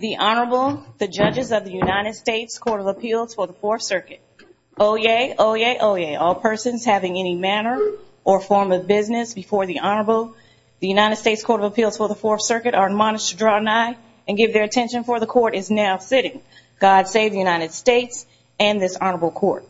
The Honorable, the Judges of the United States Court of Appeals for the Fourth Circuit. Oyez, oyez, oyez, all persons having any manner or form of business before the Honorable, the United States Court of Appeals for the Fourth Circuit are admonished to draw an eye and give their attention for the Court is now sitting. God save the United States and this Honorable Court.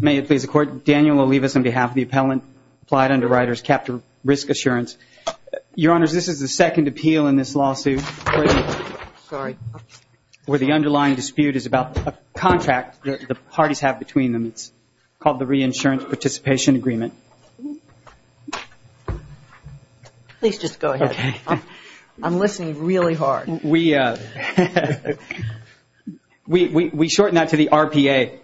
May it please the Court, Daniel Olivas on behalf of the Appellant Applied Underwriters Capture Risk Assurance. Your Honors, this is the second appeal in this lawsuit where the underlying dispute is about a contract that the parties have between them. It's called the Reinsurance Participation Agreement. Please just go ahead. I'm listening really hard. We shorten that to the RPA.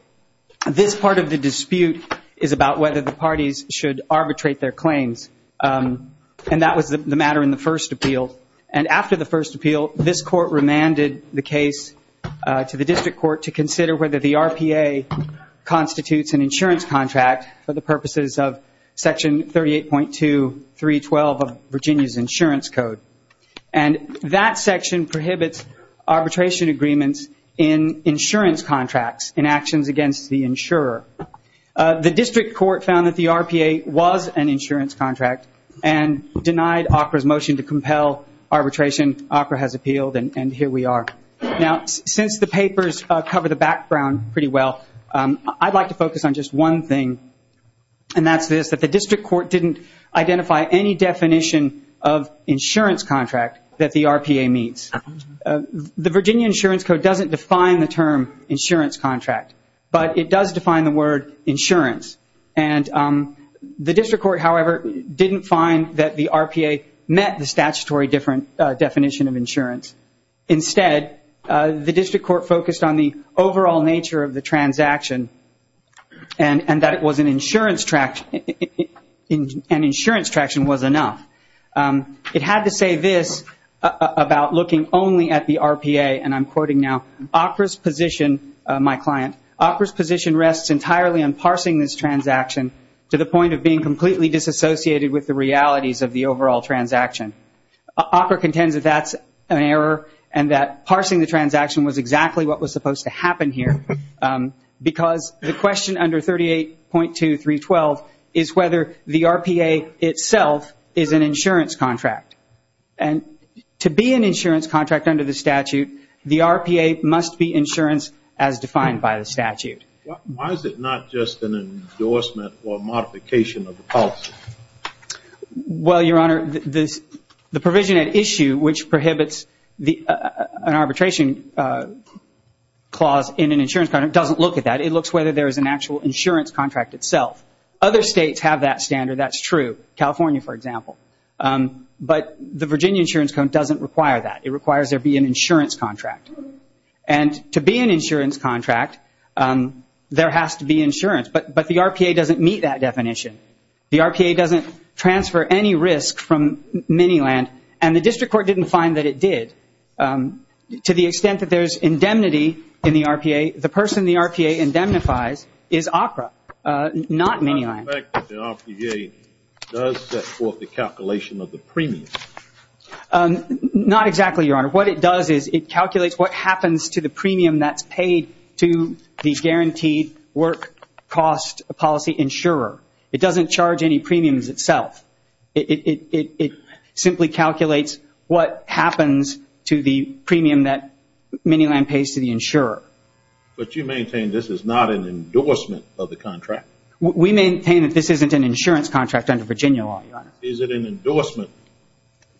This part of the dispute is about whether the parties should arbitrate their claims. And that was the matter in the first appeal. And after the first appeal, this Court remanded the case to the District Court to consider whether the RPA constitutes an insurance contract for the purposes of Section 38.2312 of Virginia's Insurance Code. And that section prohibits arbitration agreements in insurance contracts in actions against the insurer. The District Court found that the RPA was an insurance contract and denied ACRA's motion to compel arbitration. ACRA has appealed and here we are. Now, since the papers cover the background pretty well, I'd like to focus on just one thing. And that's this, that the District Court didn't identify any definition of insurance contract that the RPA meets. The Virginia Insurance Code doesn't define the term insurance contract, but it does define the word insurance. And the District Court, however, didn't find that the RPA met the statutory definition of insurance. Instead, the District Court focused on the overall nature of the transaction and that an insurance traction was enough. It had to say this about looking only at the RPA, and I'm quoting now, ACRA's position, my client, ACRA's position rests entirely on parsing this transaction to the point of being completely disassociated with the realities of the overall transaction. ACRA contends that that's an error and that parsing the transaction was exactly what was supposed to happen here because the question under 38.2312 is whether the RPA itself is an insurance contract under the statute. The RPA must be insurance as defined by the statute. Why is it not just an endorsement or modification of the policy? Well, Your Honor, the provision at issue which prohibits an arbitration clause in an insurance contract doesn't look at that. It looks whether there is an actual insurance contract itself. Other states have that standard. That's true. California, for example. But the Virginia Insurance Code doesn't require that. It requires there be an insurance contract. And to be an insurance contract, there has to be insurance. But the RPA doesn't meet that definition. The RPA doesn't transfer any risk from Miniland, and the District Court didn't find that it did to the extent that there's indemnity in the RPA. The person the RPA indemnifies is ACRA, not Miniland. Does the RPA set forth the calculation of the premium? Not exactly, Your Honor. What it does is it calculates what happens to the premium that's paid to the guaranteed work cost policy insurer. It doesn't charge any premiums itself. It simply calculates what happens to the premium that Miniland pays to the insurer. But you maintain this is not an endorsement of the contract? We maintain that this isn't an insurance contract under Virginia law, Your Honor. Is it an endorsement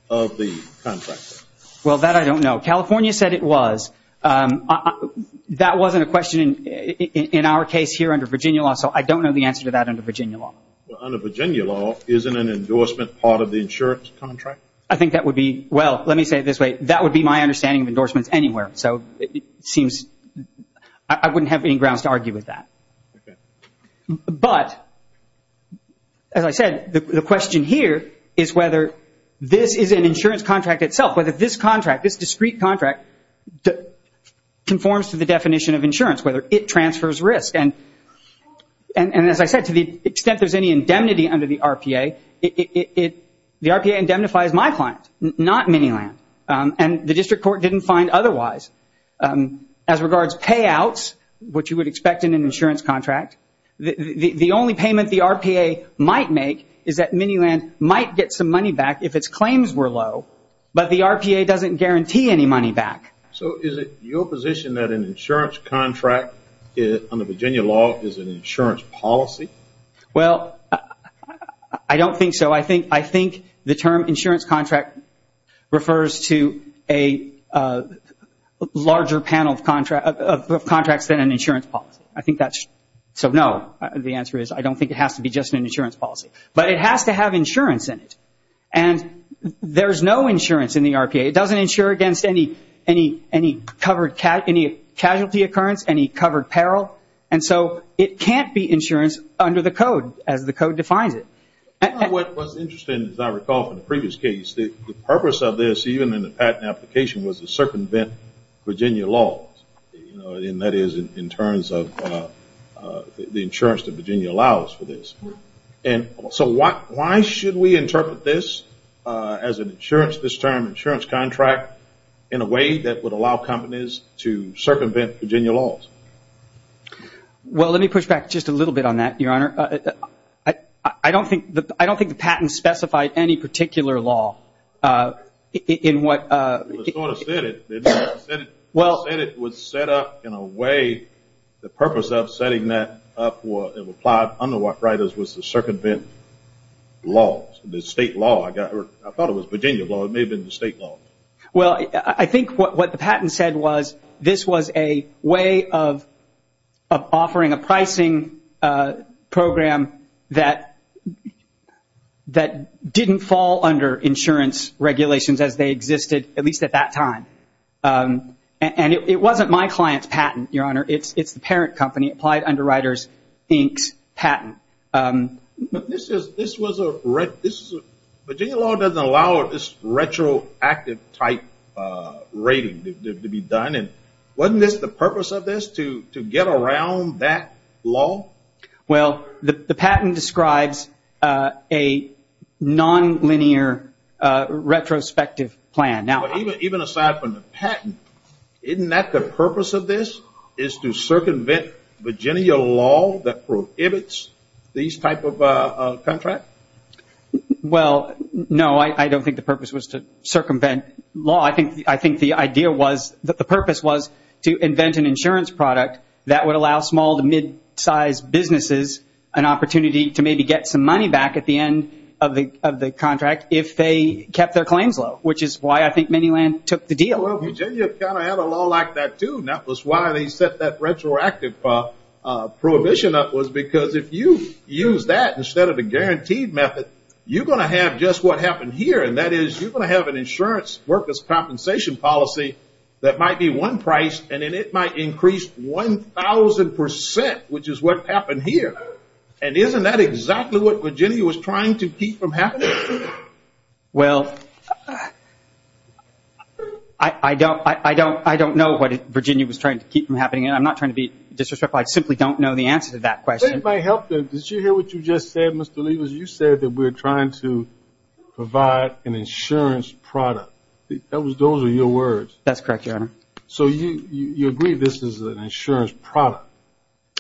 of the contract? Well, that I don't know. California said it was. That wasn't a question in our case here under Virginia law, so I don't know the answer to that under Virginia law. Well, under Virginia law, isn't an endorsement part of the insurance contract? I think that would be, well, let me say it this way. That would be my understanding of But as I said, the question here is whether this is an insurance contract itself, whether this contract, this discrete contract, conforms to the definition of insurance, whether it transfers risk. And as I said, to the extent there's any indemnity under the RPA, the RPA indemnifies my client, not Miniland. And the district court didn't find otherwise. As regards payouts, which you would expect in an insurance contract, the only payment the RPA might make is that Miniland might get some money back if its claims were low, but the RPA doesn't guarantee any money back. So is it your position that an insurance contract under Virginia law is an insurance policy? Well, I don't think so. I think the term insurance contract refers to a larger panel of contracts than an insurance policy. I think that's true. So no, the answer is I don't think it has to be just an insurance policy. But it has to have insurance in it. And there's no insurance in the RPA. It doesn't insure against any covered casualty occurrence, any covered peril. And so it can't be insurance under the code as the code defines it. What was interesting, as I recall from the previous case, the purpose of this even in the patent application was to circumvent Virginia laws. And that is in terms of the insurance that Virginia allows for this. And so why should we interpret this as an insurance, this term insurance contract, in a way that would allow companies to circumvent Virginia laws? Well, let me push back just a little bit on that, Your Honor. I don't think the patent specified any particular law in what... It was sort of set up. It was set up in a way, the purpose of setting that up, it applied under what right was to circumvent laws, the state law. I thought it was Virginia law. It may have been the state law. Well, I think what the patent said was, this was a way of offering a pricing program that didn't fall under insurance regulations as they existed, at least at that time. And it wasn't my client's patent, Your Honor. It's the parent company. It applied under Rider's Inc.'s patent. But Virginia law doesn't allow this retroactive type rating to be done. And wasn't this the purpose of this, to get around that law? Well, the patent describes a non-linear retrospective plan. Even aside from the patent, isn't that the purpose of this, is to circumvent Virginia law that prohibits these type of contract? Well, no, I don't think the purpose was to circumvent law. I think the idea was, the purpose was to invent an insurance product that would allow small to mid-sized businesses an opportunity to maybe get some money back at the end of the contract if they kept their claims low, which is why I think Manyland took the deal. Well, Virginia kind of had a law like that, too. And that was why they set that retroactive prohibition up, was because if you use that instead of a guaranteed method, you're going to have just what happened here. And that is, you're going to have an insurance worker's compensation policy that might be one price, and then it might increase 1,000%, which is what happened here. And isn't that exactly what Virginia was trying to keep from happening? Well, I don't know what Virginia was trying to keep from happening, and I'm not trying to be disrespectful. I simply don't know the answer to that question. If that might help, did you hear what you just said, Mr. Liebers? You said that we're trying to provide an insurance product. Those are your words. That's correct, Your Honor. So you agree this is an insurance product?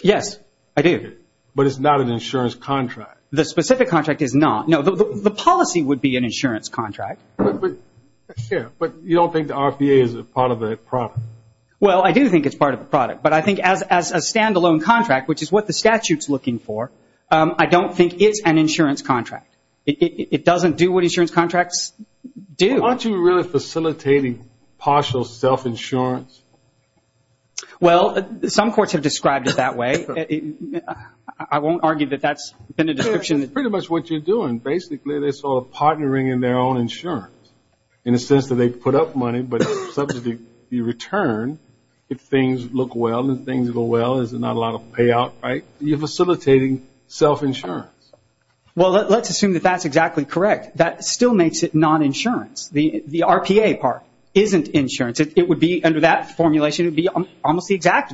Yes, I do. But it's not an insurance contract. The specific contract is not. No, the policy would be an insurance contract. But you don't think the RFA is a part of the product? Well, I do think it's part of the product. But I think as a stand-alone contract, which is what the statute's looking for, I don't think it's an insurance contract. It doesn't do what insurance contracts do. Aren't you really facilitating partial self-insurance? Well, some courts have described it that way. I won't argue that that's been a discussion for a while. But that's pretty much what you're doing. Basically, they saw a partnering in their own insurance in the sense that they put up money, but subject to the return, if things look well and things go well, there's not a lot of payout, right? You're facilitating self-insurance. Well, let's assume that that's exactly correct. That still makes it non-insurance. The RPA part isn't insurance. Under that formulation, it would be almost the exact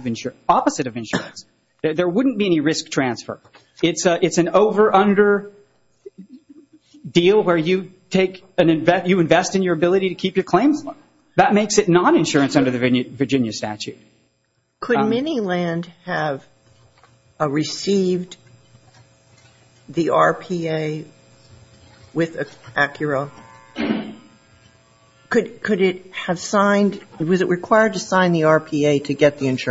opposite of insurance. There wouldn't be any risk transfer. It's an over-under deal where you invest in your ability to keep your claims. That makes it non-insurance under the Virginia statute. Could Miniland have received the RPA with Acura? Was it required to sign the RPA to do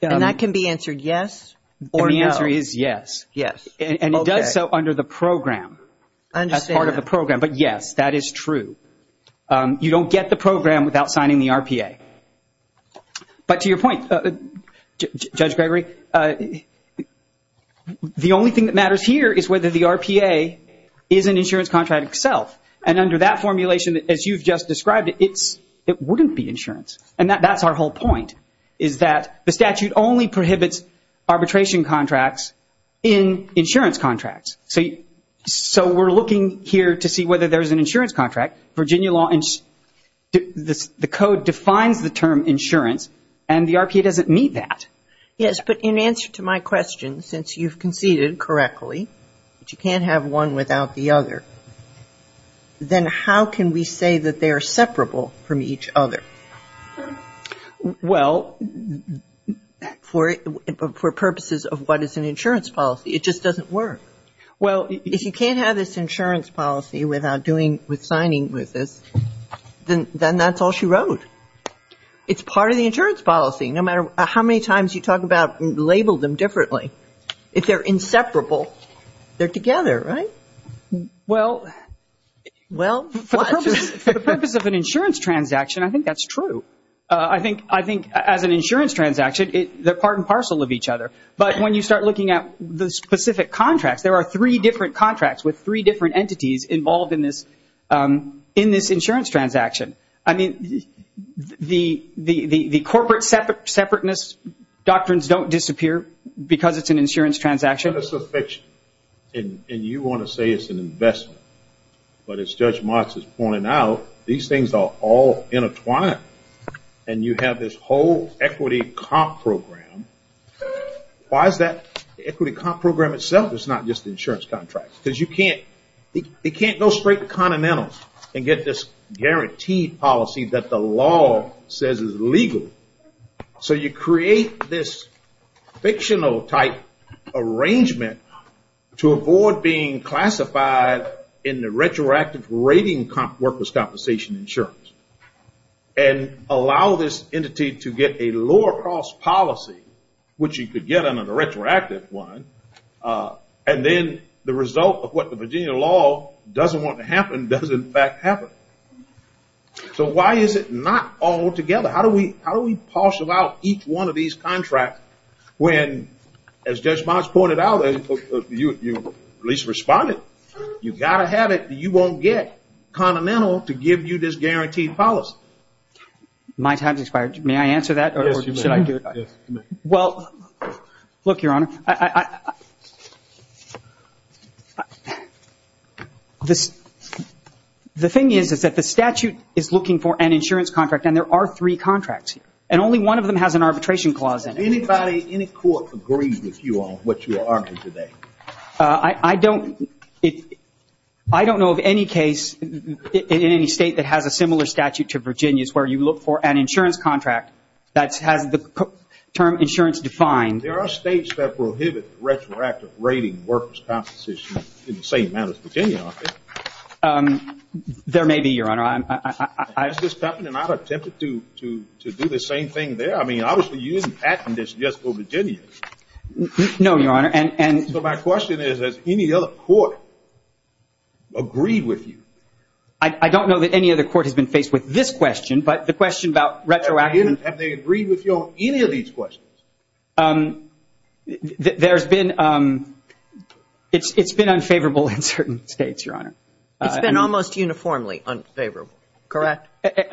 that? That can be answered yes or no. The answer is yes. Yes, okay. It does so under the program as part of the program. But yes, that is true. You don't get the program without signing the RPA. But to your point, Judge Gregory, the only thing that matters here is whether the RPA is an insurance contract itself. Under that formulation, as you've just described it, it wouldn't be insurance. And that's our whole point, is that the statute only prohibits arbitration contracts in insurance contracts. So we're looking here to see whether there's an insurance contract. The code defines the term insurance and the RPA doesn't meet that. Yes, but in answer to my question, since you've conceded correctly that you can't have one without the other, then how can we say that they are separable from each other? Well, for purposes of what is an insurance policy, it just doesn't work. Well, if you can't have this insurance policy without signing with this, then that's all she wrote. It's part of the insurance policy. No matter how many times you talk about and Well, for the purpose of an insurance transaction, I think that's true. I think as an insurance transaction, they're part and parcel of each other. But when you start looking at the specific contracts, there are three different contracts with three different entities involved in this insurance transaction. I mean, the corporate separateness doctrines don't disappear because it's an insurance transaction. Well, I think it's a fiction and you want to say it's an investment. But as Judge Martz is pointing out, these things are all intertwined and you have this whole equity comp program. Why is that equity comp program itself? It's not just insurance contracts. Because you can't go straight to Continental and get this guaranteed policy that the law says is legal. So, you create this fictional type arrangement to avoid being classified in the retroactive rating workers compensation insurance. And allow this entity to get a lower cost policy, which you could get on a retroactive one. And then the result of what the Virginia law doesn't want to happen doesn't in fact happen. So, why is it not all together? How do we parcel out each one of these contracts when, as Judge Martz pointed out, you at least responded. You've got to have it or you won't get Continental to give you this guaranteed policy. My time has expired. May I answer that or should I do it? The thing is that the statute is looking for an insurance contract and there are three contracts and only one of them has an arbitration clause in it. Does any court agree with you on what you are arguing today? I don't know of any case in any state that has a similar statute to Virginia's where you look for an insurance contract that has the term insurance defined. There are states that prohibit retroactive rating workers compensation in the same manner as Virginia, aren't there? There may be, Your Honor. Has this happened and I've attempted to do the same thing there? I mean, obviously, you didn't patent this just for Virginia. No, Your Honor. So, my question is, has any other court agreed with you? I don't know that any other court has been faced with this question, but the question about retroactive... Have they agreed with you on any of these questions? There's been... It's been unfavorable in certain states, Your Honor. It's been almost uniformly unfavorable, correct?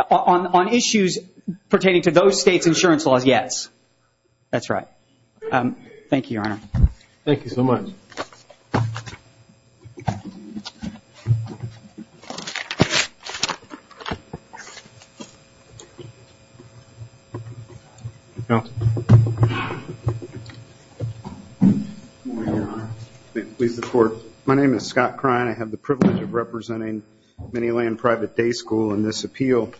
On issues pertaining to those states' insurance laws, yes. That's right. Thank you, Your Honor. Thank you so much. My name is Scott Krine. I have the privilege of representing Minneland Private Day School in this appeal.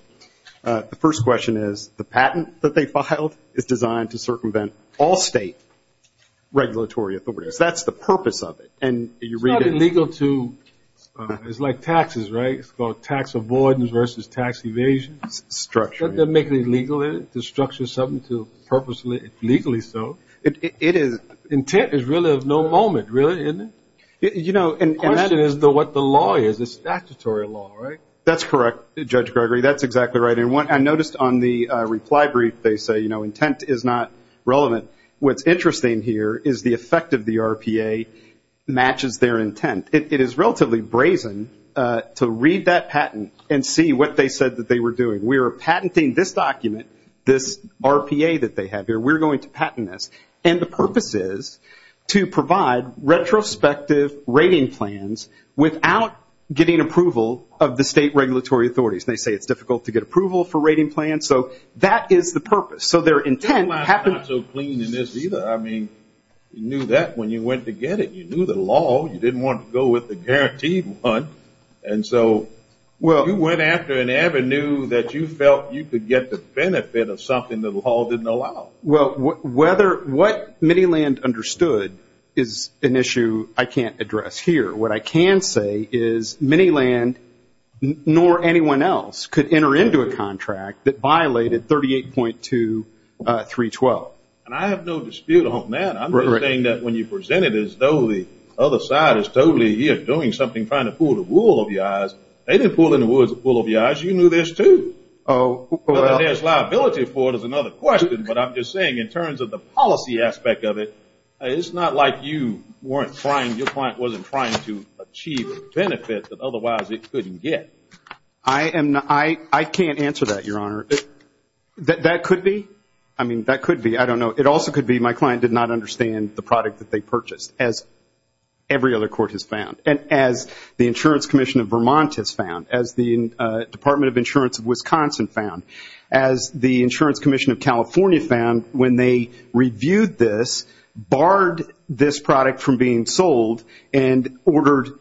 The first question is, the patent that they filed is designed to circumvent all state regulatory authorities. That's the purpose of it, and you read it... It's not illegal to... It's like taxes, right? It's called tax avoidance versus tax evasion. Structuring. They're making it legal to structure something to purposefully, legally so. It is... Intent is really of no moment, really, isn't it? You know, and that is what the law is. It's statutory law, right? That's correct, Judge Gregory. That's exactly right. And I noticed on the reply brief, they say, you know, intent is not relevant. What's interesting here is the effect of the RPA matches their intent. It is relatively brazen to read that patent and see what they said that they were doing. We are patenting this document, this RPA that they have here. We're going to patent this. And the purpose is to provide retrospective rating plans without getting approval of the state regulatory authorities. They say it's difficult to get approval for rating plans. So that is the purpose. So their intent... Minneland's not so clean in this either. I mean, you knew that when you went to get it. You knew the law. You didn't want to go with the guaranteed one. And so you went after an avenue that you felt you could get the benefit of something that the law didn't allow. Well, what Minneland understood is an issue I can't address here. What I can say is Minneland, nor anyone else, could enter into a contract that violated 38.2312. And I have no dispute on that. I'm just saying that when you present it as though the other party is doing something, trying to pull the wool over your eyes, they didn't pull in the wool over your eyes. You knew this too. Oh, well... There's liability for it is another question. But I'm just saying in terms of the policy aspect of it, it's not like you weren't trying, your client wasn't trying to achieve a benefit that otherwise it couldn't get. I can't answer that, Your Honor. That could be. I mean, that could be. I don't know. It also could be my client did not understand the product that they purchased, as every other court has found, and as the Insurance Commission of Vermont has found, as the Department of Insurance of Wisconsin found, as the Insurance Commission of California found when they reviewed this, barred this product from being sold, and ordered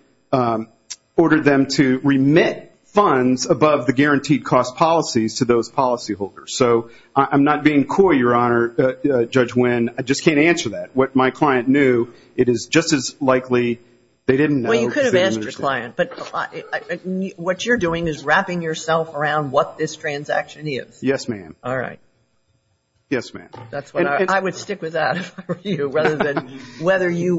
them to remit funds above the guaranteed cost policies to those policyholders. So I'm not being coy, Your Honor, Judge Winn. I just can't answer that. What my client knew, it is just as likely they didn't know because they didn't understand. Well, you could have asked your client. But what you're doing is wrapping yourself around what this transaction is. Yes, ma'am. All right. Yes, ma'am. I would stick with that for you rather than whether you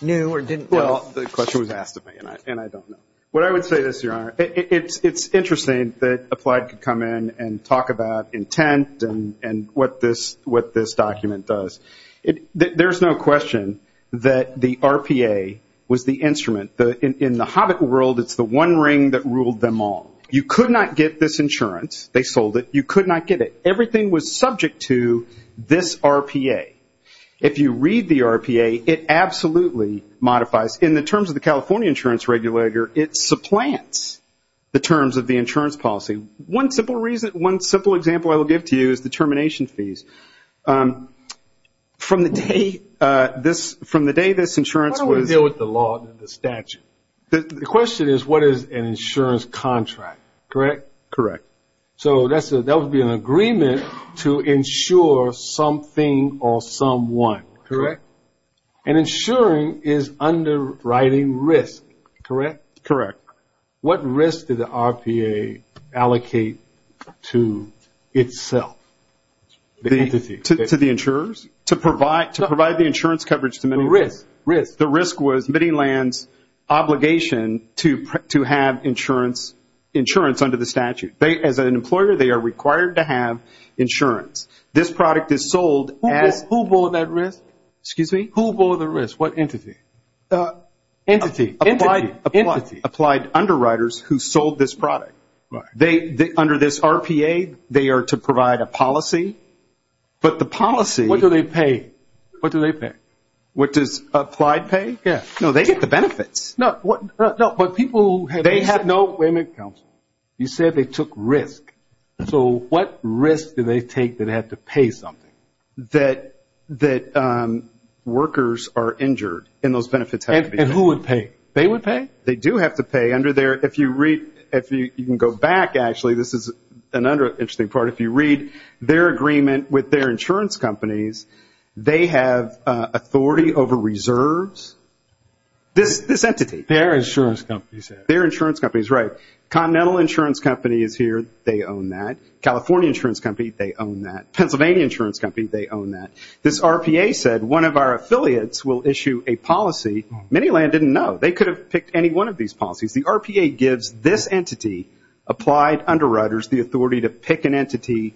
knew or didn't know. Well, the question was asked of me, and I don't know. What I would say is, Your Honor, it's interesting that Applied could come in and talk about intent and what this document does. There's no question that the RPA was the instrument. In the hobbit world, it's the one ring that ruled them all. You could not get this insurance. They sold it. You could not get it. Everything was subject to this RPA. If you read the RPA, it absolutely modifies. In the terms of the California Insurance Regulator, it supplants the terms of the insurance policy. One simple example I will give to you is the termination fees. From the day this insurance was- How do we deal with the law and the statute? The question is, what is an insurance contract? Correct? Correct. So that would be an agreement to insure something or someone. Correct. And insuring is underwriting risk. Correct? Correct. What risk did the RPA allocate to itself, the entity? To the insurers? To provide the insurance coverage to Miniland. The risk. The risk was Miniland's obligation to have insurance under the statute. As an employer, they are required to have insurance. This product is sold as- Who bore that risk? Excuse me? Who bore the risk? What entity? Entity. Entity. Applied underwriters who sold this product. Under this RPA, they are to provide a policy, but the policy- What do they pay? What do they pay? What does applied pay? Yes. No, they get the benefits. No, but people- They have no- Wait a minute, counsel. You said they took risk. So what risk did they take that they had to pay something? That workers are injured and those benefits have to be- And who would pay? They would pay? They do have to pay. Under their- If you read- You can go back, actually. This is another interesting part. If you read their agreement with their insurance companies, they have authority over reserves. This entity. Their insurance companies. Their insurance companies, right. Continental Insurance Company is here. They own that. California Insurance Company, they own that. Pennsylvania Insurance Company, they own that. This RPA said one of our affiliates will issue a policy. Many land didn't know. They could have picked any one of these policies. The RPA gives this entity, applied underwriters, the authority to pick an entity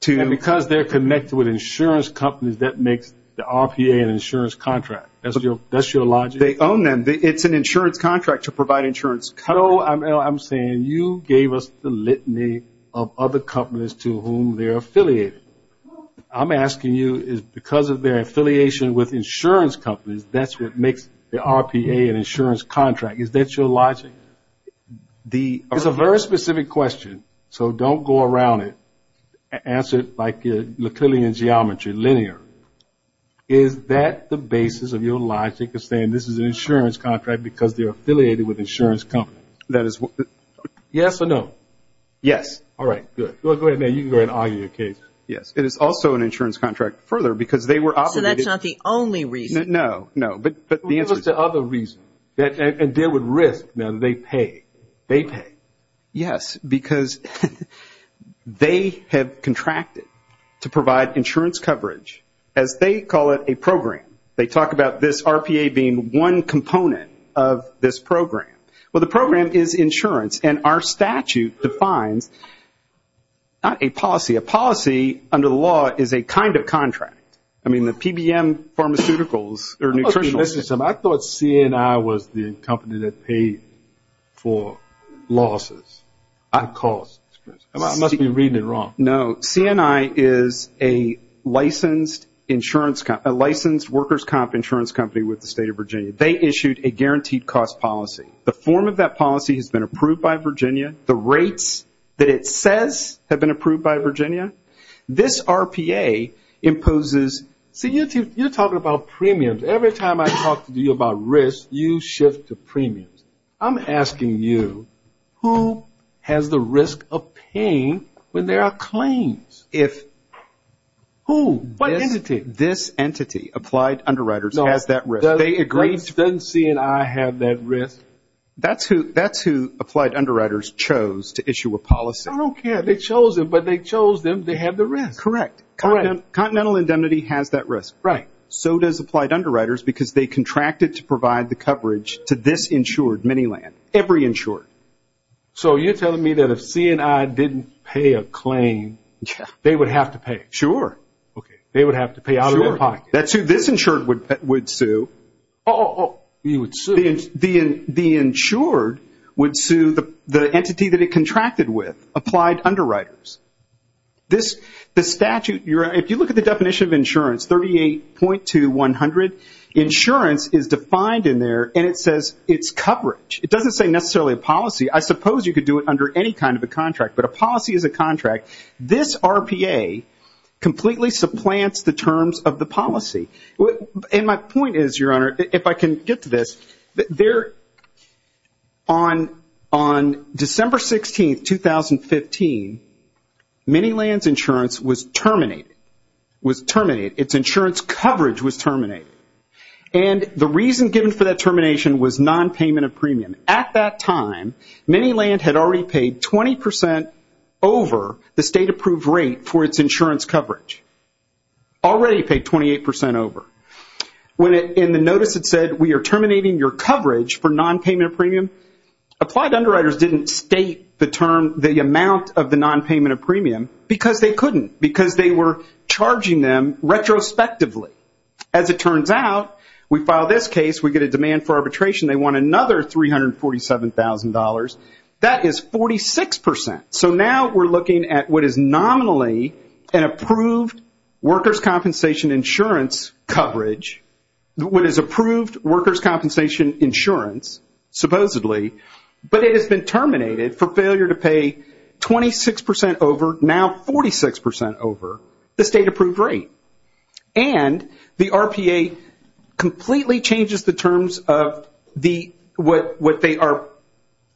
to- And because they're connected with insurance companies, that makes the RPA an insurance contract. That's your logic? They own them. It's an insurance contract to provide insurance coverage. No, I'm saying you gave us the litany of other companies to whom they're affiliated. I'm asking you, because of their affiliation with insurance companies, that's what makes the RPA an insurance contract. Is that your logic? It's a very specific question, so don't go around it. Answer it like a Lickelian geometry, linear. Is that the basis of your logic of saying this is an insurance contract because they're affiliated with insurance companies? Yes or no? Yes. All right. Good. Go ahead, man. You can go ahead and argue your case. Yes. It is also an insurance contract further because they were obligated- So that's not the only reason? No. No. But the answer is- What was the other reason? And there would risk, now, that they pay. They pay. Yes, because they have contracted to provide insurance coverage, as they call it, a program. They talk about this RPA being one component of this program. Well, the program is insurance, and our statute defines not a policy. A policy, under the law, is a kind of contract. I mean, the PBM Pharmaceuticals or Nutritional- I thought CNI was the company that paid for losses and costs. I must be reading it wrong. No. CNI is a licensed workers' comp insurance company with the State of Virginia. They issued a guaranteed cost policy. The form of that policy has been approved by Virginia. The rates that it says have been approved by Virginia. This RPA imposes-see, you're talking about premiums. Every time I talk to you about risk, you shift to premiums. I'm asking you, who has the risk of paying when there are claims? Who? What entity? This entity, Applied Underwriters, has that risk. Doesn't CNI have that risk? That's who Applied Underwriters chose to issue a policy. I don't care. They chose them, but they chose them. They have the risk. Correct. Continental Indemnity has that risk. Right. So does Applied Underwriters, because they contracted to provide the coverage to this insured miniland, every insured. So you're telling me that if CNI didn't pay a claim, they would have to pay? Sure. Okay. They would have to pay out of their pocket. That's who this insured would sue. You would sue? The insured would sue the entity that it contracted with, Applied Underwriters. This statute, if you look at the definition of insurance, 38.2100, insurance is defined in there, and it says it's coverage. It doesn't say necessarily a policy. I suppose you could do it under any kind of a contract, but a policy is a contract. This RPA completely supplants the terms of the policy. And my point is, Your Honor, if I can get to this, on December 16, 2015, Miniland's insurance was terminated. It was terminated. Its insurance coverage was terminated. And the reason given for that termination was nonpayment of premium. At that time, Miniland had already paid 20% over the state-approved rate for its insurance coverage. Already paid 28% over. In the notice it said, We are terminating your coverage for nonpayment of premium. Applied Underwriters didn't state the amount of the nonpayment of premium because they couldn't, because they were charging them retrospectively. As it turns out, we file this case, we get a demand for arbitration, they want another $347,000. That is 46%. So now we're looking at what is nominally an approved workers' compensation insurance coverage, what is approved workers' compensation insurance, supposedly, but it has been terminated for failure to pay 26% over, now 46% over, the state-approved rate. And the RPA completely changes the terms of what they are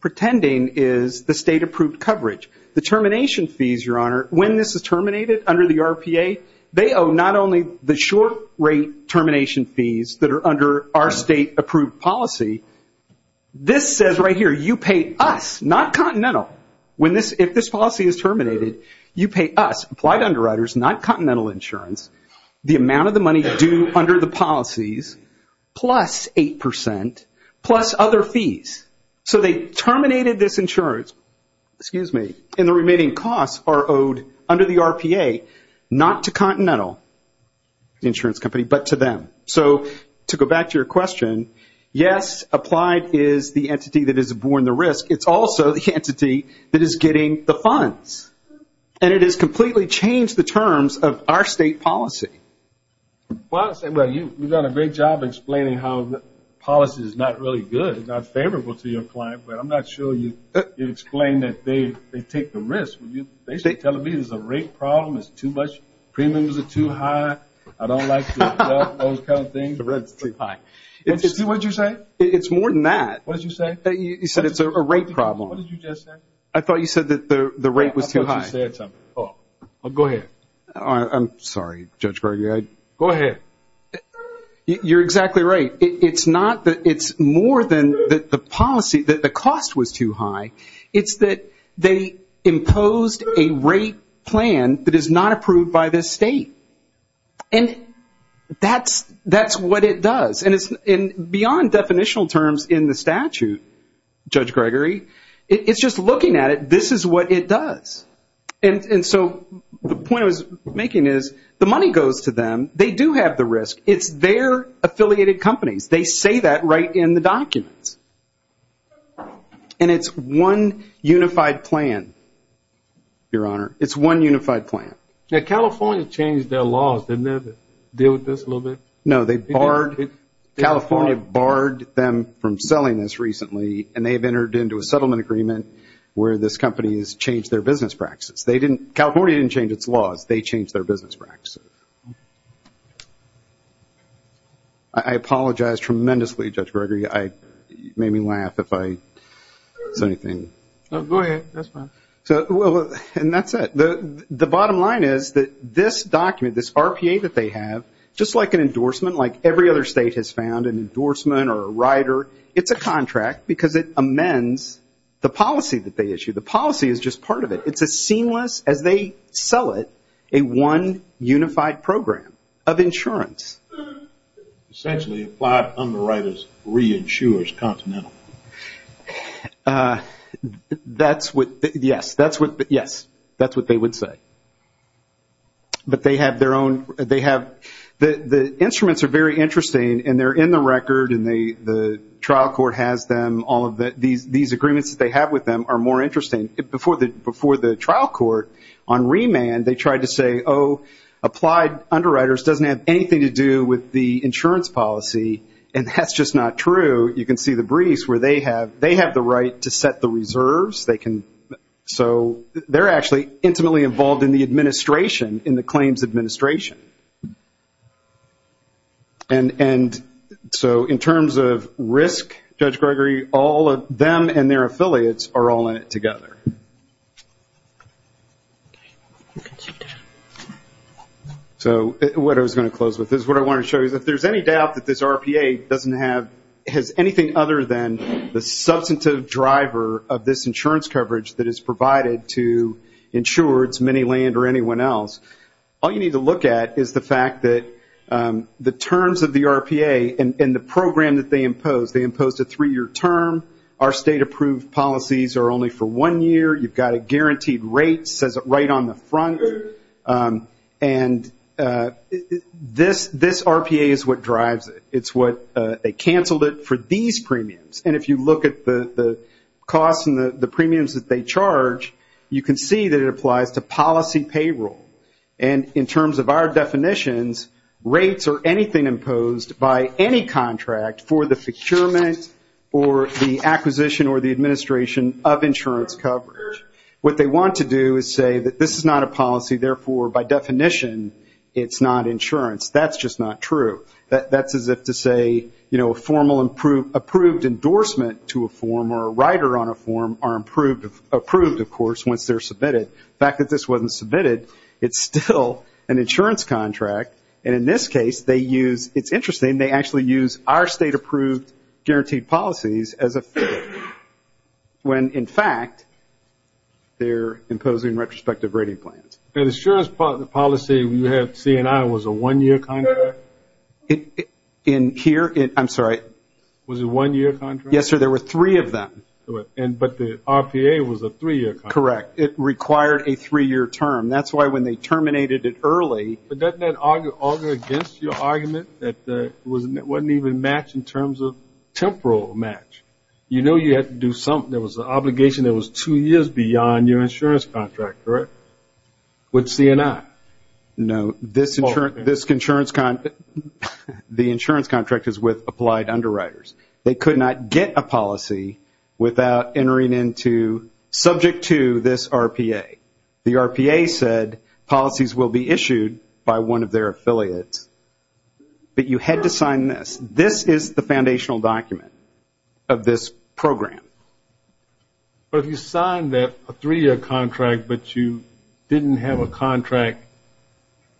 pretending is the state-approved coverage. The termination fees, Your Honor, when this is terminated under the RPA, they owe not only the short-rate termination fees that are under our state-approved policy, this says right here, You pay us, not Continental. If this policy is terminated, you pay us, Applied Underwriters, not Continental Insurance, the amount of the money due under the policies, plus 8%, plus other fees. So they terminated this insurance, excuse me, and the remaining costs are owed under the RPA, not to Continental Insurance Company, but to them. So to go back to your question, yes, Applied is the entity that is abhorring the risk, it's also the entity that is getting the funds. And it has completely changed the terms of our state policy. Well, you've done a great job explaining how the policy is not really good, not favorable to your client, but I'm not sure you've explained that they take the risk. They tell me it's a rate problem, it's too much, premiums are too high, I don't like those kind of things. What did you say? It's more than that. What did you say? You said it's a rate problem. What did you just say? I thought you said that the rate was too high. I thought you said something. Go ahead. I'm sorry, Judge Gregory. Go ahead. You're exactly right. It's not that it's more than the policy, that the cost was too high, it's that they imposed a rate plan that is not approved by this state. And that's what it does. And beyond definitional terms in the statute, Judge Gregory, it's just looking at it, this is what it does. And so the point I was making is the money goes to them, they do have the risk, it's their affiliated companies. They say that right in the documents. And it's one unified plan, Your Honor. It's one unified plan. Now, California changed their laws, didn't they? Deal with this a little bit? No, they barred, California barred them from selling this recently and they have entered into a settlement agreement where this company has changed their business practices. California didn't change its laws, they changed their business practices. I apologize tremendously, Judge Gregory. You made me laugh if I said anything. No, go ahead. That's fine. And that's it. The bottom line is that this document, this RPA that they have, just like an endorsement like every other state has found, an endorsement or a rider, it's a contract because it amends the policy that they issue. The policy is just part of it. It's as seamless as they sell it, a one unified program of insurance. Essentially applied underwriter's re-insurer's continental. Yes, that's what they would say. But they have their own – the instruments are very interesting and they're in the record and the trial court has them, all of these agreements that they have with them are more interesting. Before the trial court, on remand, they tried to say, oh, applied underwriter's doesn't have anything to do with the insurance policy, and that's just not true. You can see the briefs where they have the right to set the reserves. So they're actually intimately involved in the administration, in the claims administration. And so in terms of risk, Judge Gregory, all of them and their affiliates are all in it together. So what I was going to close with is what I wanted to show you. If there's any doubt that this RPA doesn't have – isn't a driver of this insurance coverage that is provided to insureds, many land or anyone else, all you need to look at is the fact that the terms of the RPA and the program that they impose. They impose a three-year term. Our state approved policies are only for one year. You've got a guaranteed rate, says it right on the front. And this RPA is what drives it. It's what – they canceled it for these premiums. And if you look at the costs and the premiums that they charge, you can see that it applies to policy payroll. And in terms of our definitions, rates are anything imposed by any contract for the procurement or the acquisition or the administration of insurance coverage. What they want to do is say that this is not a policy, therefore by definition it's not insurance. That's just not true. That's as if to say a formal approved endorsement to a form or a rider on a form are approved, of course, once they're submitted. The fact that this wasn't submitted, it's still an insurance contract. And in this case they use – it's interesting, they actually use our state approved guaranteed policies as a figure. When, in fact, they're imposing retrospective rating plans. That insurance policy you had, C&I, was a one-year contract? In here? I'm sorry. Was it a one-year contract? Yes, sir, there were three of them. But the RPA was a three-year contract. Correct. It required a three-year term. That's why when they terminated it early. But doesn't that auger against your argument that it wasn't even matched in terms of temporal match? You know you had to do something. There was an obligation that was two years beyond your insurance contract, correct, with C&I? No, the insurance contract is with applied underwriters. They could not get a policy without entering into – subject to this RPA. The RPA said policies will be issued by one of their affiliates. But you had to sign this. This is the foundational document of this program. But if you signed a three-year contract, but you didn't have a contract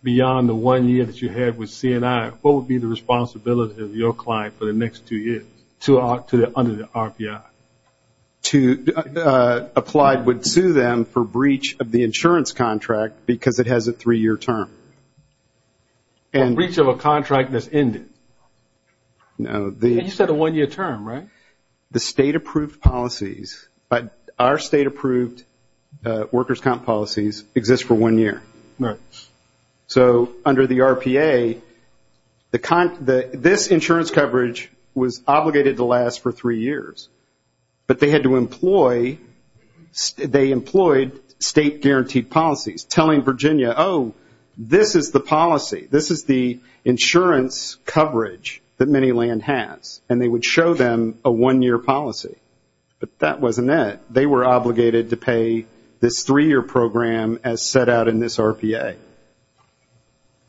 beyond the one year that you had with C&I, what would be the responsibility of your client for the next two years under the RPI? Applied would sue them for breach of the insurance contract because it has a three-year term. A breach of a contract that's ended. You said a one-year term, right? The state-approved policies – our state-approved workers' comp policies exist for one year. Right. So under the RPA, this insurance coverage was obligated to last for three years. But they had to employ – they employed state-guaranteed policies, telling Virginia, oh, this is the policy. This is the insurance coverage that ManyLand has. And they would show them a one-year policy. But that wasn't it. They were obligated to pay this three-year program as set out in this RPA.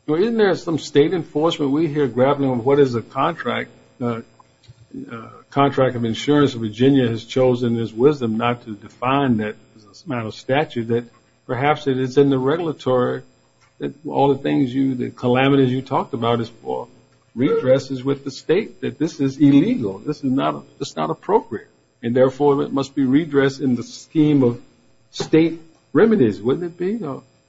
Well, isn't there some state enforcement we hear grappling with what is a contract – contract of insurance that Virginia has chosen, there's wisdom not to define that as a matter of statute, that perhaps it is in the regulatory that all the things you – the calamities you talked about is for redresses with the state, that this is illegal. This is not – it's not appropriate. And, therefore, it must be redressed in the scheme of state remedies, wouldn't it be?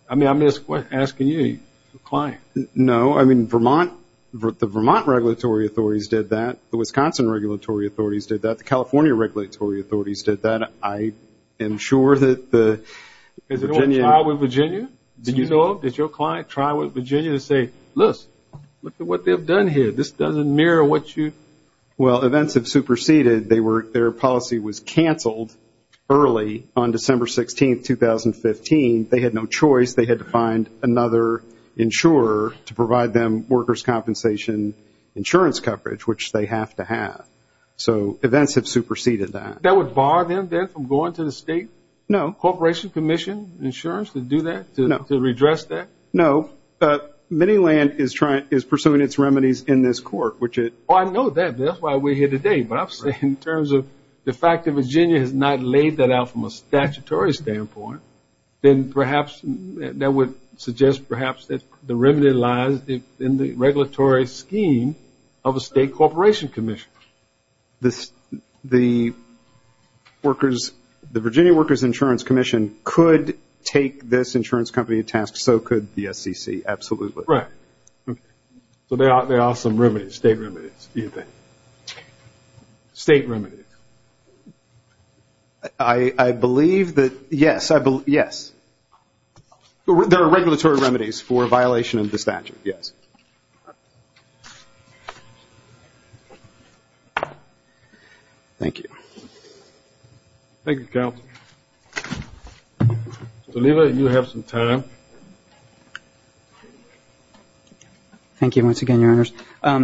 I mean, I'm just asking you, the client. No. I mean, Vermont – the Vermont regulatory authorities did that. The Wisconsin regulatory authorities did that. The California regulatory authorities did that. I am sure that the Virginia – Has anyone tried with Virginia? Did you know? Did your client try with Virginia to say, look, look at what they've done here. This doesn't mirror what you – Well, events have superseded. They were – their policy was canceled early on December 16, 2015. They had no choice. They had to find another insurer to provide them workers' compensation insurance coverage, which they have to have. So events have superseded that. That would bar them then from going to the state corporation commission insurance to do that? No. To redress that? No. Many Land is pursuing its remedies in this court, which it – Oh, I know that. That's why we're here today. But I'm saying in terms of the fact that Virginia has not laid that out from a statutory standpoint, then perhaps that would suggest perhaps that the remedy lies in the regulatory scheme of a state corporation commission. The workers' – the Virginia workers' insurance commission could take this insurance company to task. So could the SEC, absolutely. Right. Okay. So there are some remedies, state remedies, do you think? State remedies. I believe that – yes. Yes. There are regulatory remedies for a violation of the statute, yes. Thank you. Thank you, counsel. Delilah, you have some time. Thank you once again, Your Honors. Have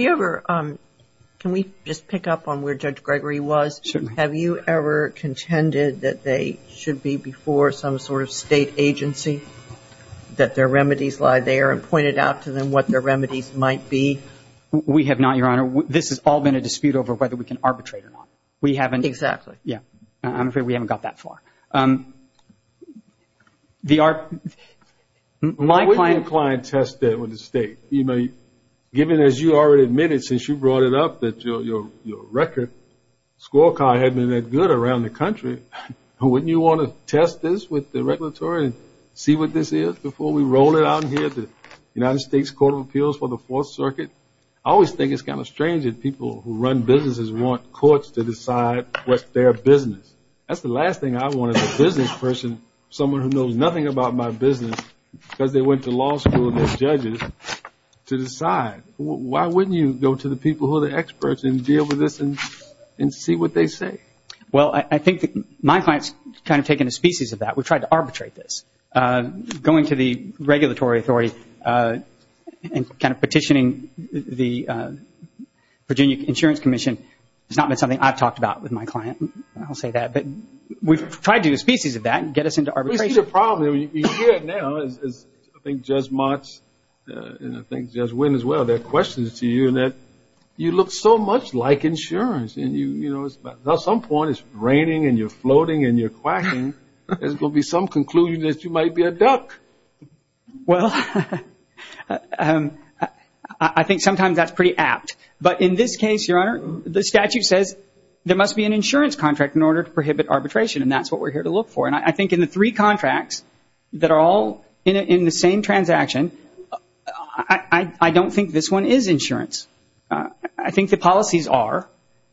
you ever – can we just pick up on where Judge Gregory was? Certainly. Have you ever contended that they should be before some sort of state agency, that their remedies lie there, and pointed out to them what their remedies might be? We have not, Your Honor. This has all been a dispute over whether we can arbitrate or not. We haven't. Exactly. Yes. I'm afraid we haven't got that far. My client – Why wouldn't your client test that with the state? Given, as you already admitted since you brought it up, that your record scorecard had been that good around the country, wouldn't you want to test this with the regulatory and see what this is before we roll it out here to the United States Court of Appeals for the Fourth Circuit? I always think it's kind of strange that people who run businesses want courts to decide what their business. That's the last thing I want as a business person, someone who knows nothing about my business, because they went to law school and they're judges, to decide. Why wouldn't you go to the people who are the experts and deal with this and see what they say? Well, I think my client's kind of taken a species of that. We've tried to arbitrate this. Going to the regulatory authority and kind of petitioning the Virginia Insurance Commission has not been something I've talked about with my client. I'll say that. But we've tried to do a species of that and get us into arbitration. We see the problem. You hear it now, as I think Judge Mott and I think Judge Wynn as well, there are questions to you that you look so much like insurance. At some point it's raining and you're floating and you're quacking. There's going to be some conclusion that you might be a duck. Well, I think sometimes that's pretty apt. But in this case, Your Honor, the statute says there must be an insurance contract in order to prohibit arbitration, and that's what we're here to look for. And I think in the three contracts that are all in the same transaction, I don't think this one is insurance. I think the policies are,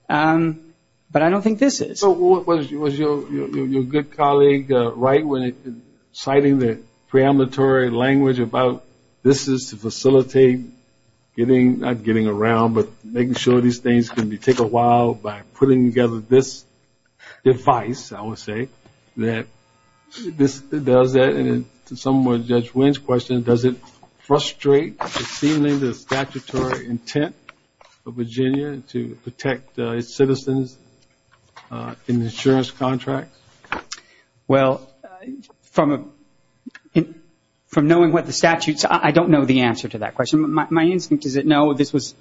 but I don't think this is. So was your good colleague right when he was citing the preamblatory language about this is to facilitate getting, not getting around, but making sure these things can take a while by putting together this device, I would say, that does that. And in some way, Judge Wynn's question, does it frustrate the seeming statutory intent of Virginia to protect its citizens in the insurance contract? Well, from knowing what the statute is, I don't know the answer to that question. My instinct is that, no, this was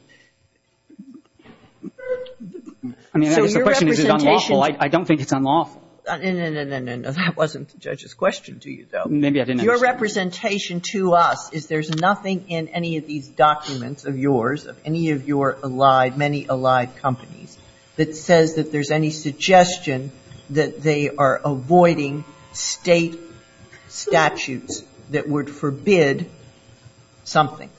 unlawful. I don't think it's unlawful. No, no, no. That wasn't the judge's question to you, though. Maybe I didn't answer it. Your representation to us is there's nothing in any of these documents of yours, of any of your many allied companies, that says that there's any suggestion that they are avoiding state statutes that would forbid something.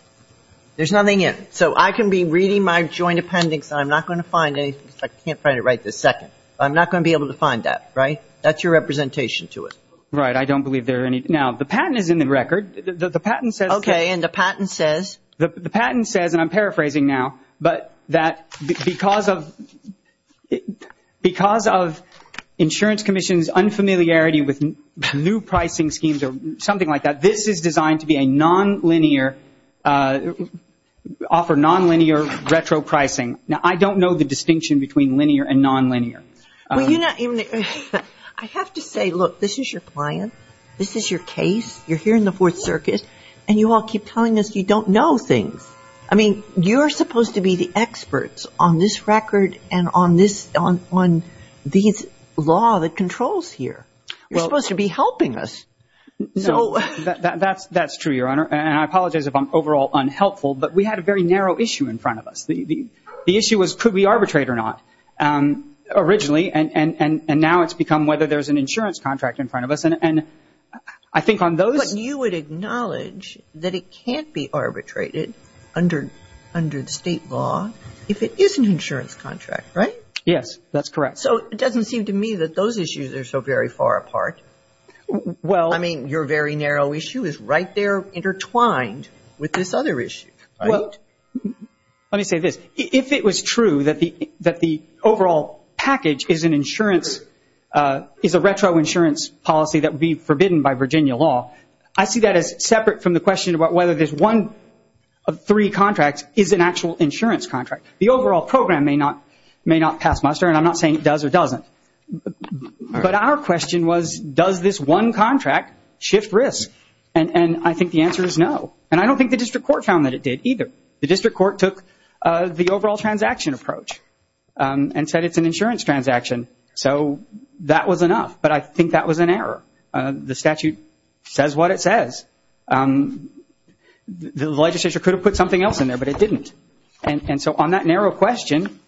There's nothing in it. So I can be reading my joint appendix, and I'm not going to find anything. I can't find it right this second. I'm not going to be able to find that, right? That's your representation to us. Right. I don't believe there are any. Now, the patent is in the record. The patent says the patent says, and I'm paraphrasing now, but that because of insurance commission's unfamiliarity with new pricing schemes or something like that, this is designed to be a nonlinear, offer nonlinear retro pricing. Now, I don't know the distinction between linear and nonlinear. I have to say, look, this is your client. This is your case. You're here in the Fourth Circuit, and you all keep telling us you don't know things. I mean, you're supposed to be the experts on this record and on this law that controls here. You're supposed to be helping us. No, that's true, Your Honor, and I apologize if I'm overall unhelpful, but we had a very narrow issue in front of us. The issue was could we arbitrate or not originally, and now it's become whether there's an insurance contract in front of us, and I think on those ‑‑ So you would acknowledge that it can't be arbitrated under state law if it is an insurance contract, right? Yes, that's correct. So it doesn't seem to me that those issues are so very far apart. Well ‑‑ I mean, your very narrow issue is right there intertwined with this other issue. Let me say this. If it was true that the overall package is an insurance ‑‑ is a retro insurance policy that would be forbidden by Virginia law, I see that as separate from the question about whether there's one of three contracts is an actual insurance contract. The overall program may not pass muster, and I'm not saying it does or doesn't, but our question was does this one contract shift risk, and I think the answer is no, and I don't think the district court found that it did either. The district court took the overall transaction approach and said it's an insurance transaction, so that was enough, but I think that was an error. The statute says what it says. The legislature could have put something else in there, but it didn't, and so on that narrow question,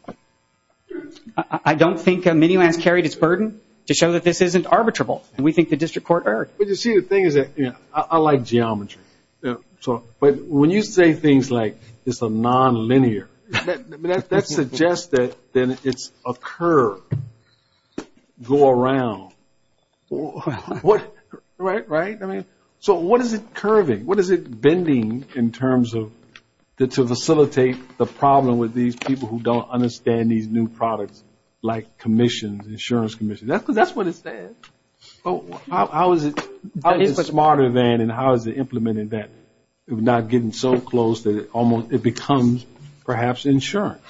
I don't think Miniland has carried its burden to show that this isn't arbitrable, and we think the district court erred. But you see, the thing is that I like geometry, but when you say things like it's a non‑linear, that suggests that it's a curve go around, right? I mean, so what is it curving? What is it bending in terms of to facilitate the problem with these people who don't understand these new products like commissions, insurance commissions? That's what it says. How is it smarter than and how is it implemented that it's not getting so close that it becomes perhaps insurance?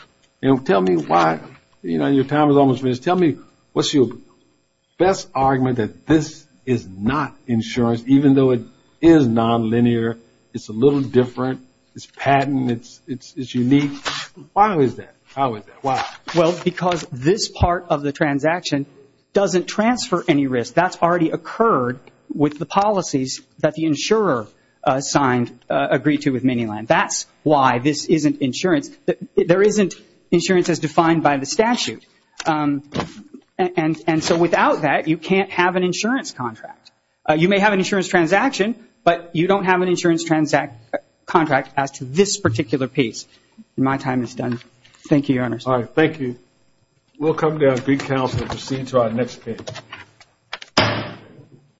Tell me why. Your time is almost finished. Tell me what's your best argument that this is not insurance, even though it is non‑linear, it's a little different, it's patent, it's unique. Why is that? How is that? Why? Well, because this part of the transaction doesn't transfer any risk. That's already occurred with the policies that the insurer signed, agreed to with Miniland. That's why this isn't insurance. There isn't insurance as defined by the statute. And so without that, you can't have an insurance contract. You may have an insurance transaction, but you don't have an insurance contract as to this particular piece. My time is done. Thank you, Your Honors. All right, thank you. We'll come down and get counsel and proceed to our next case.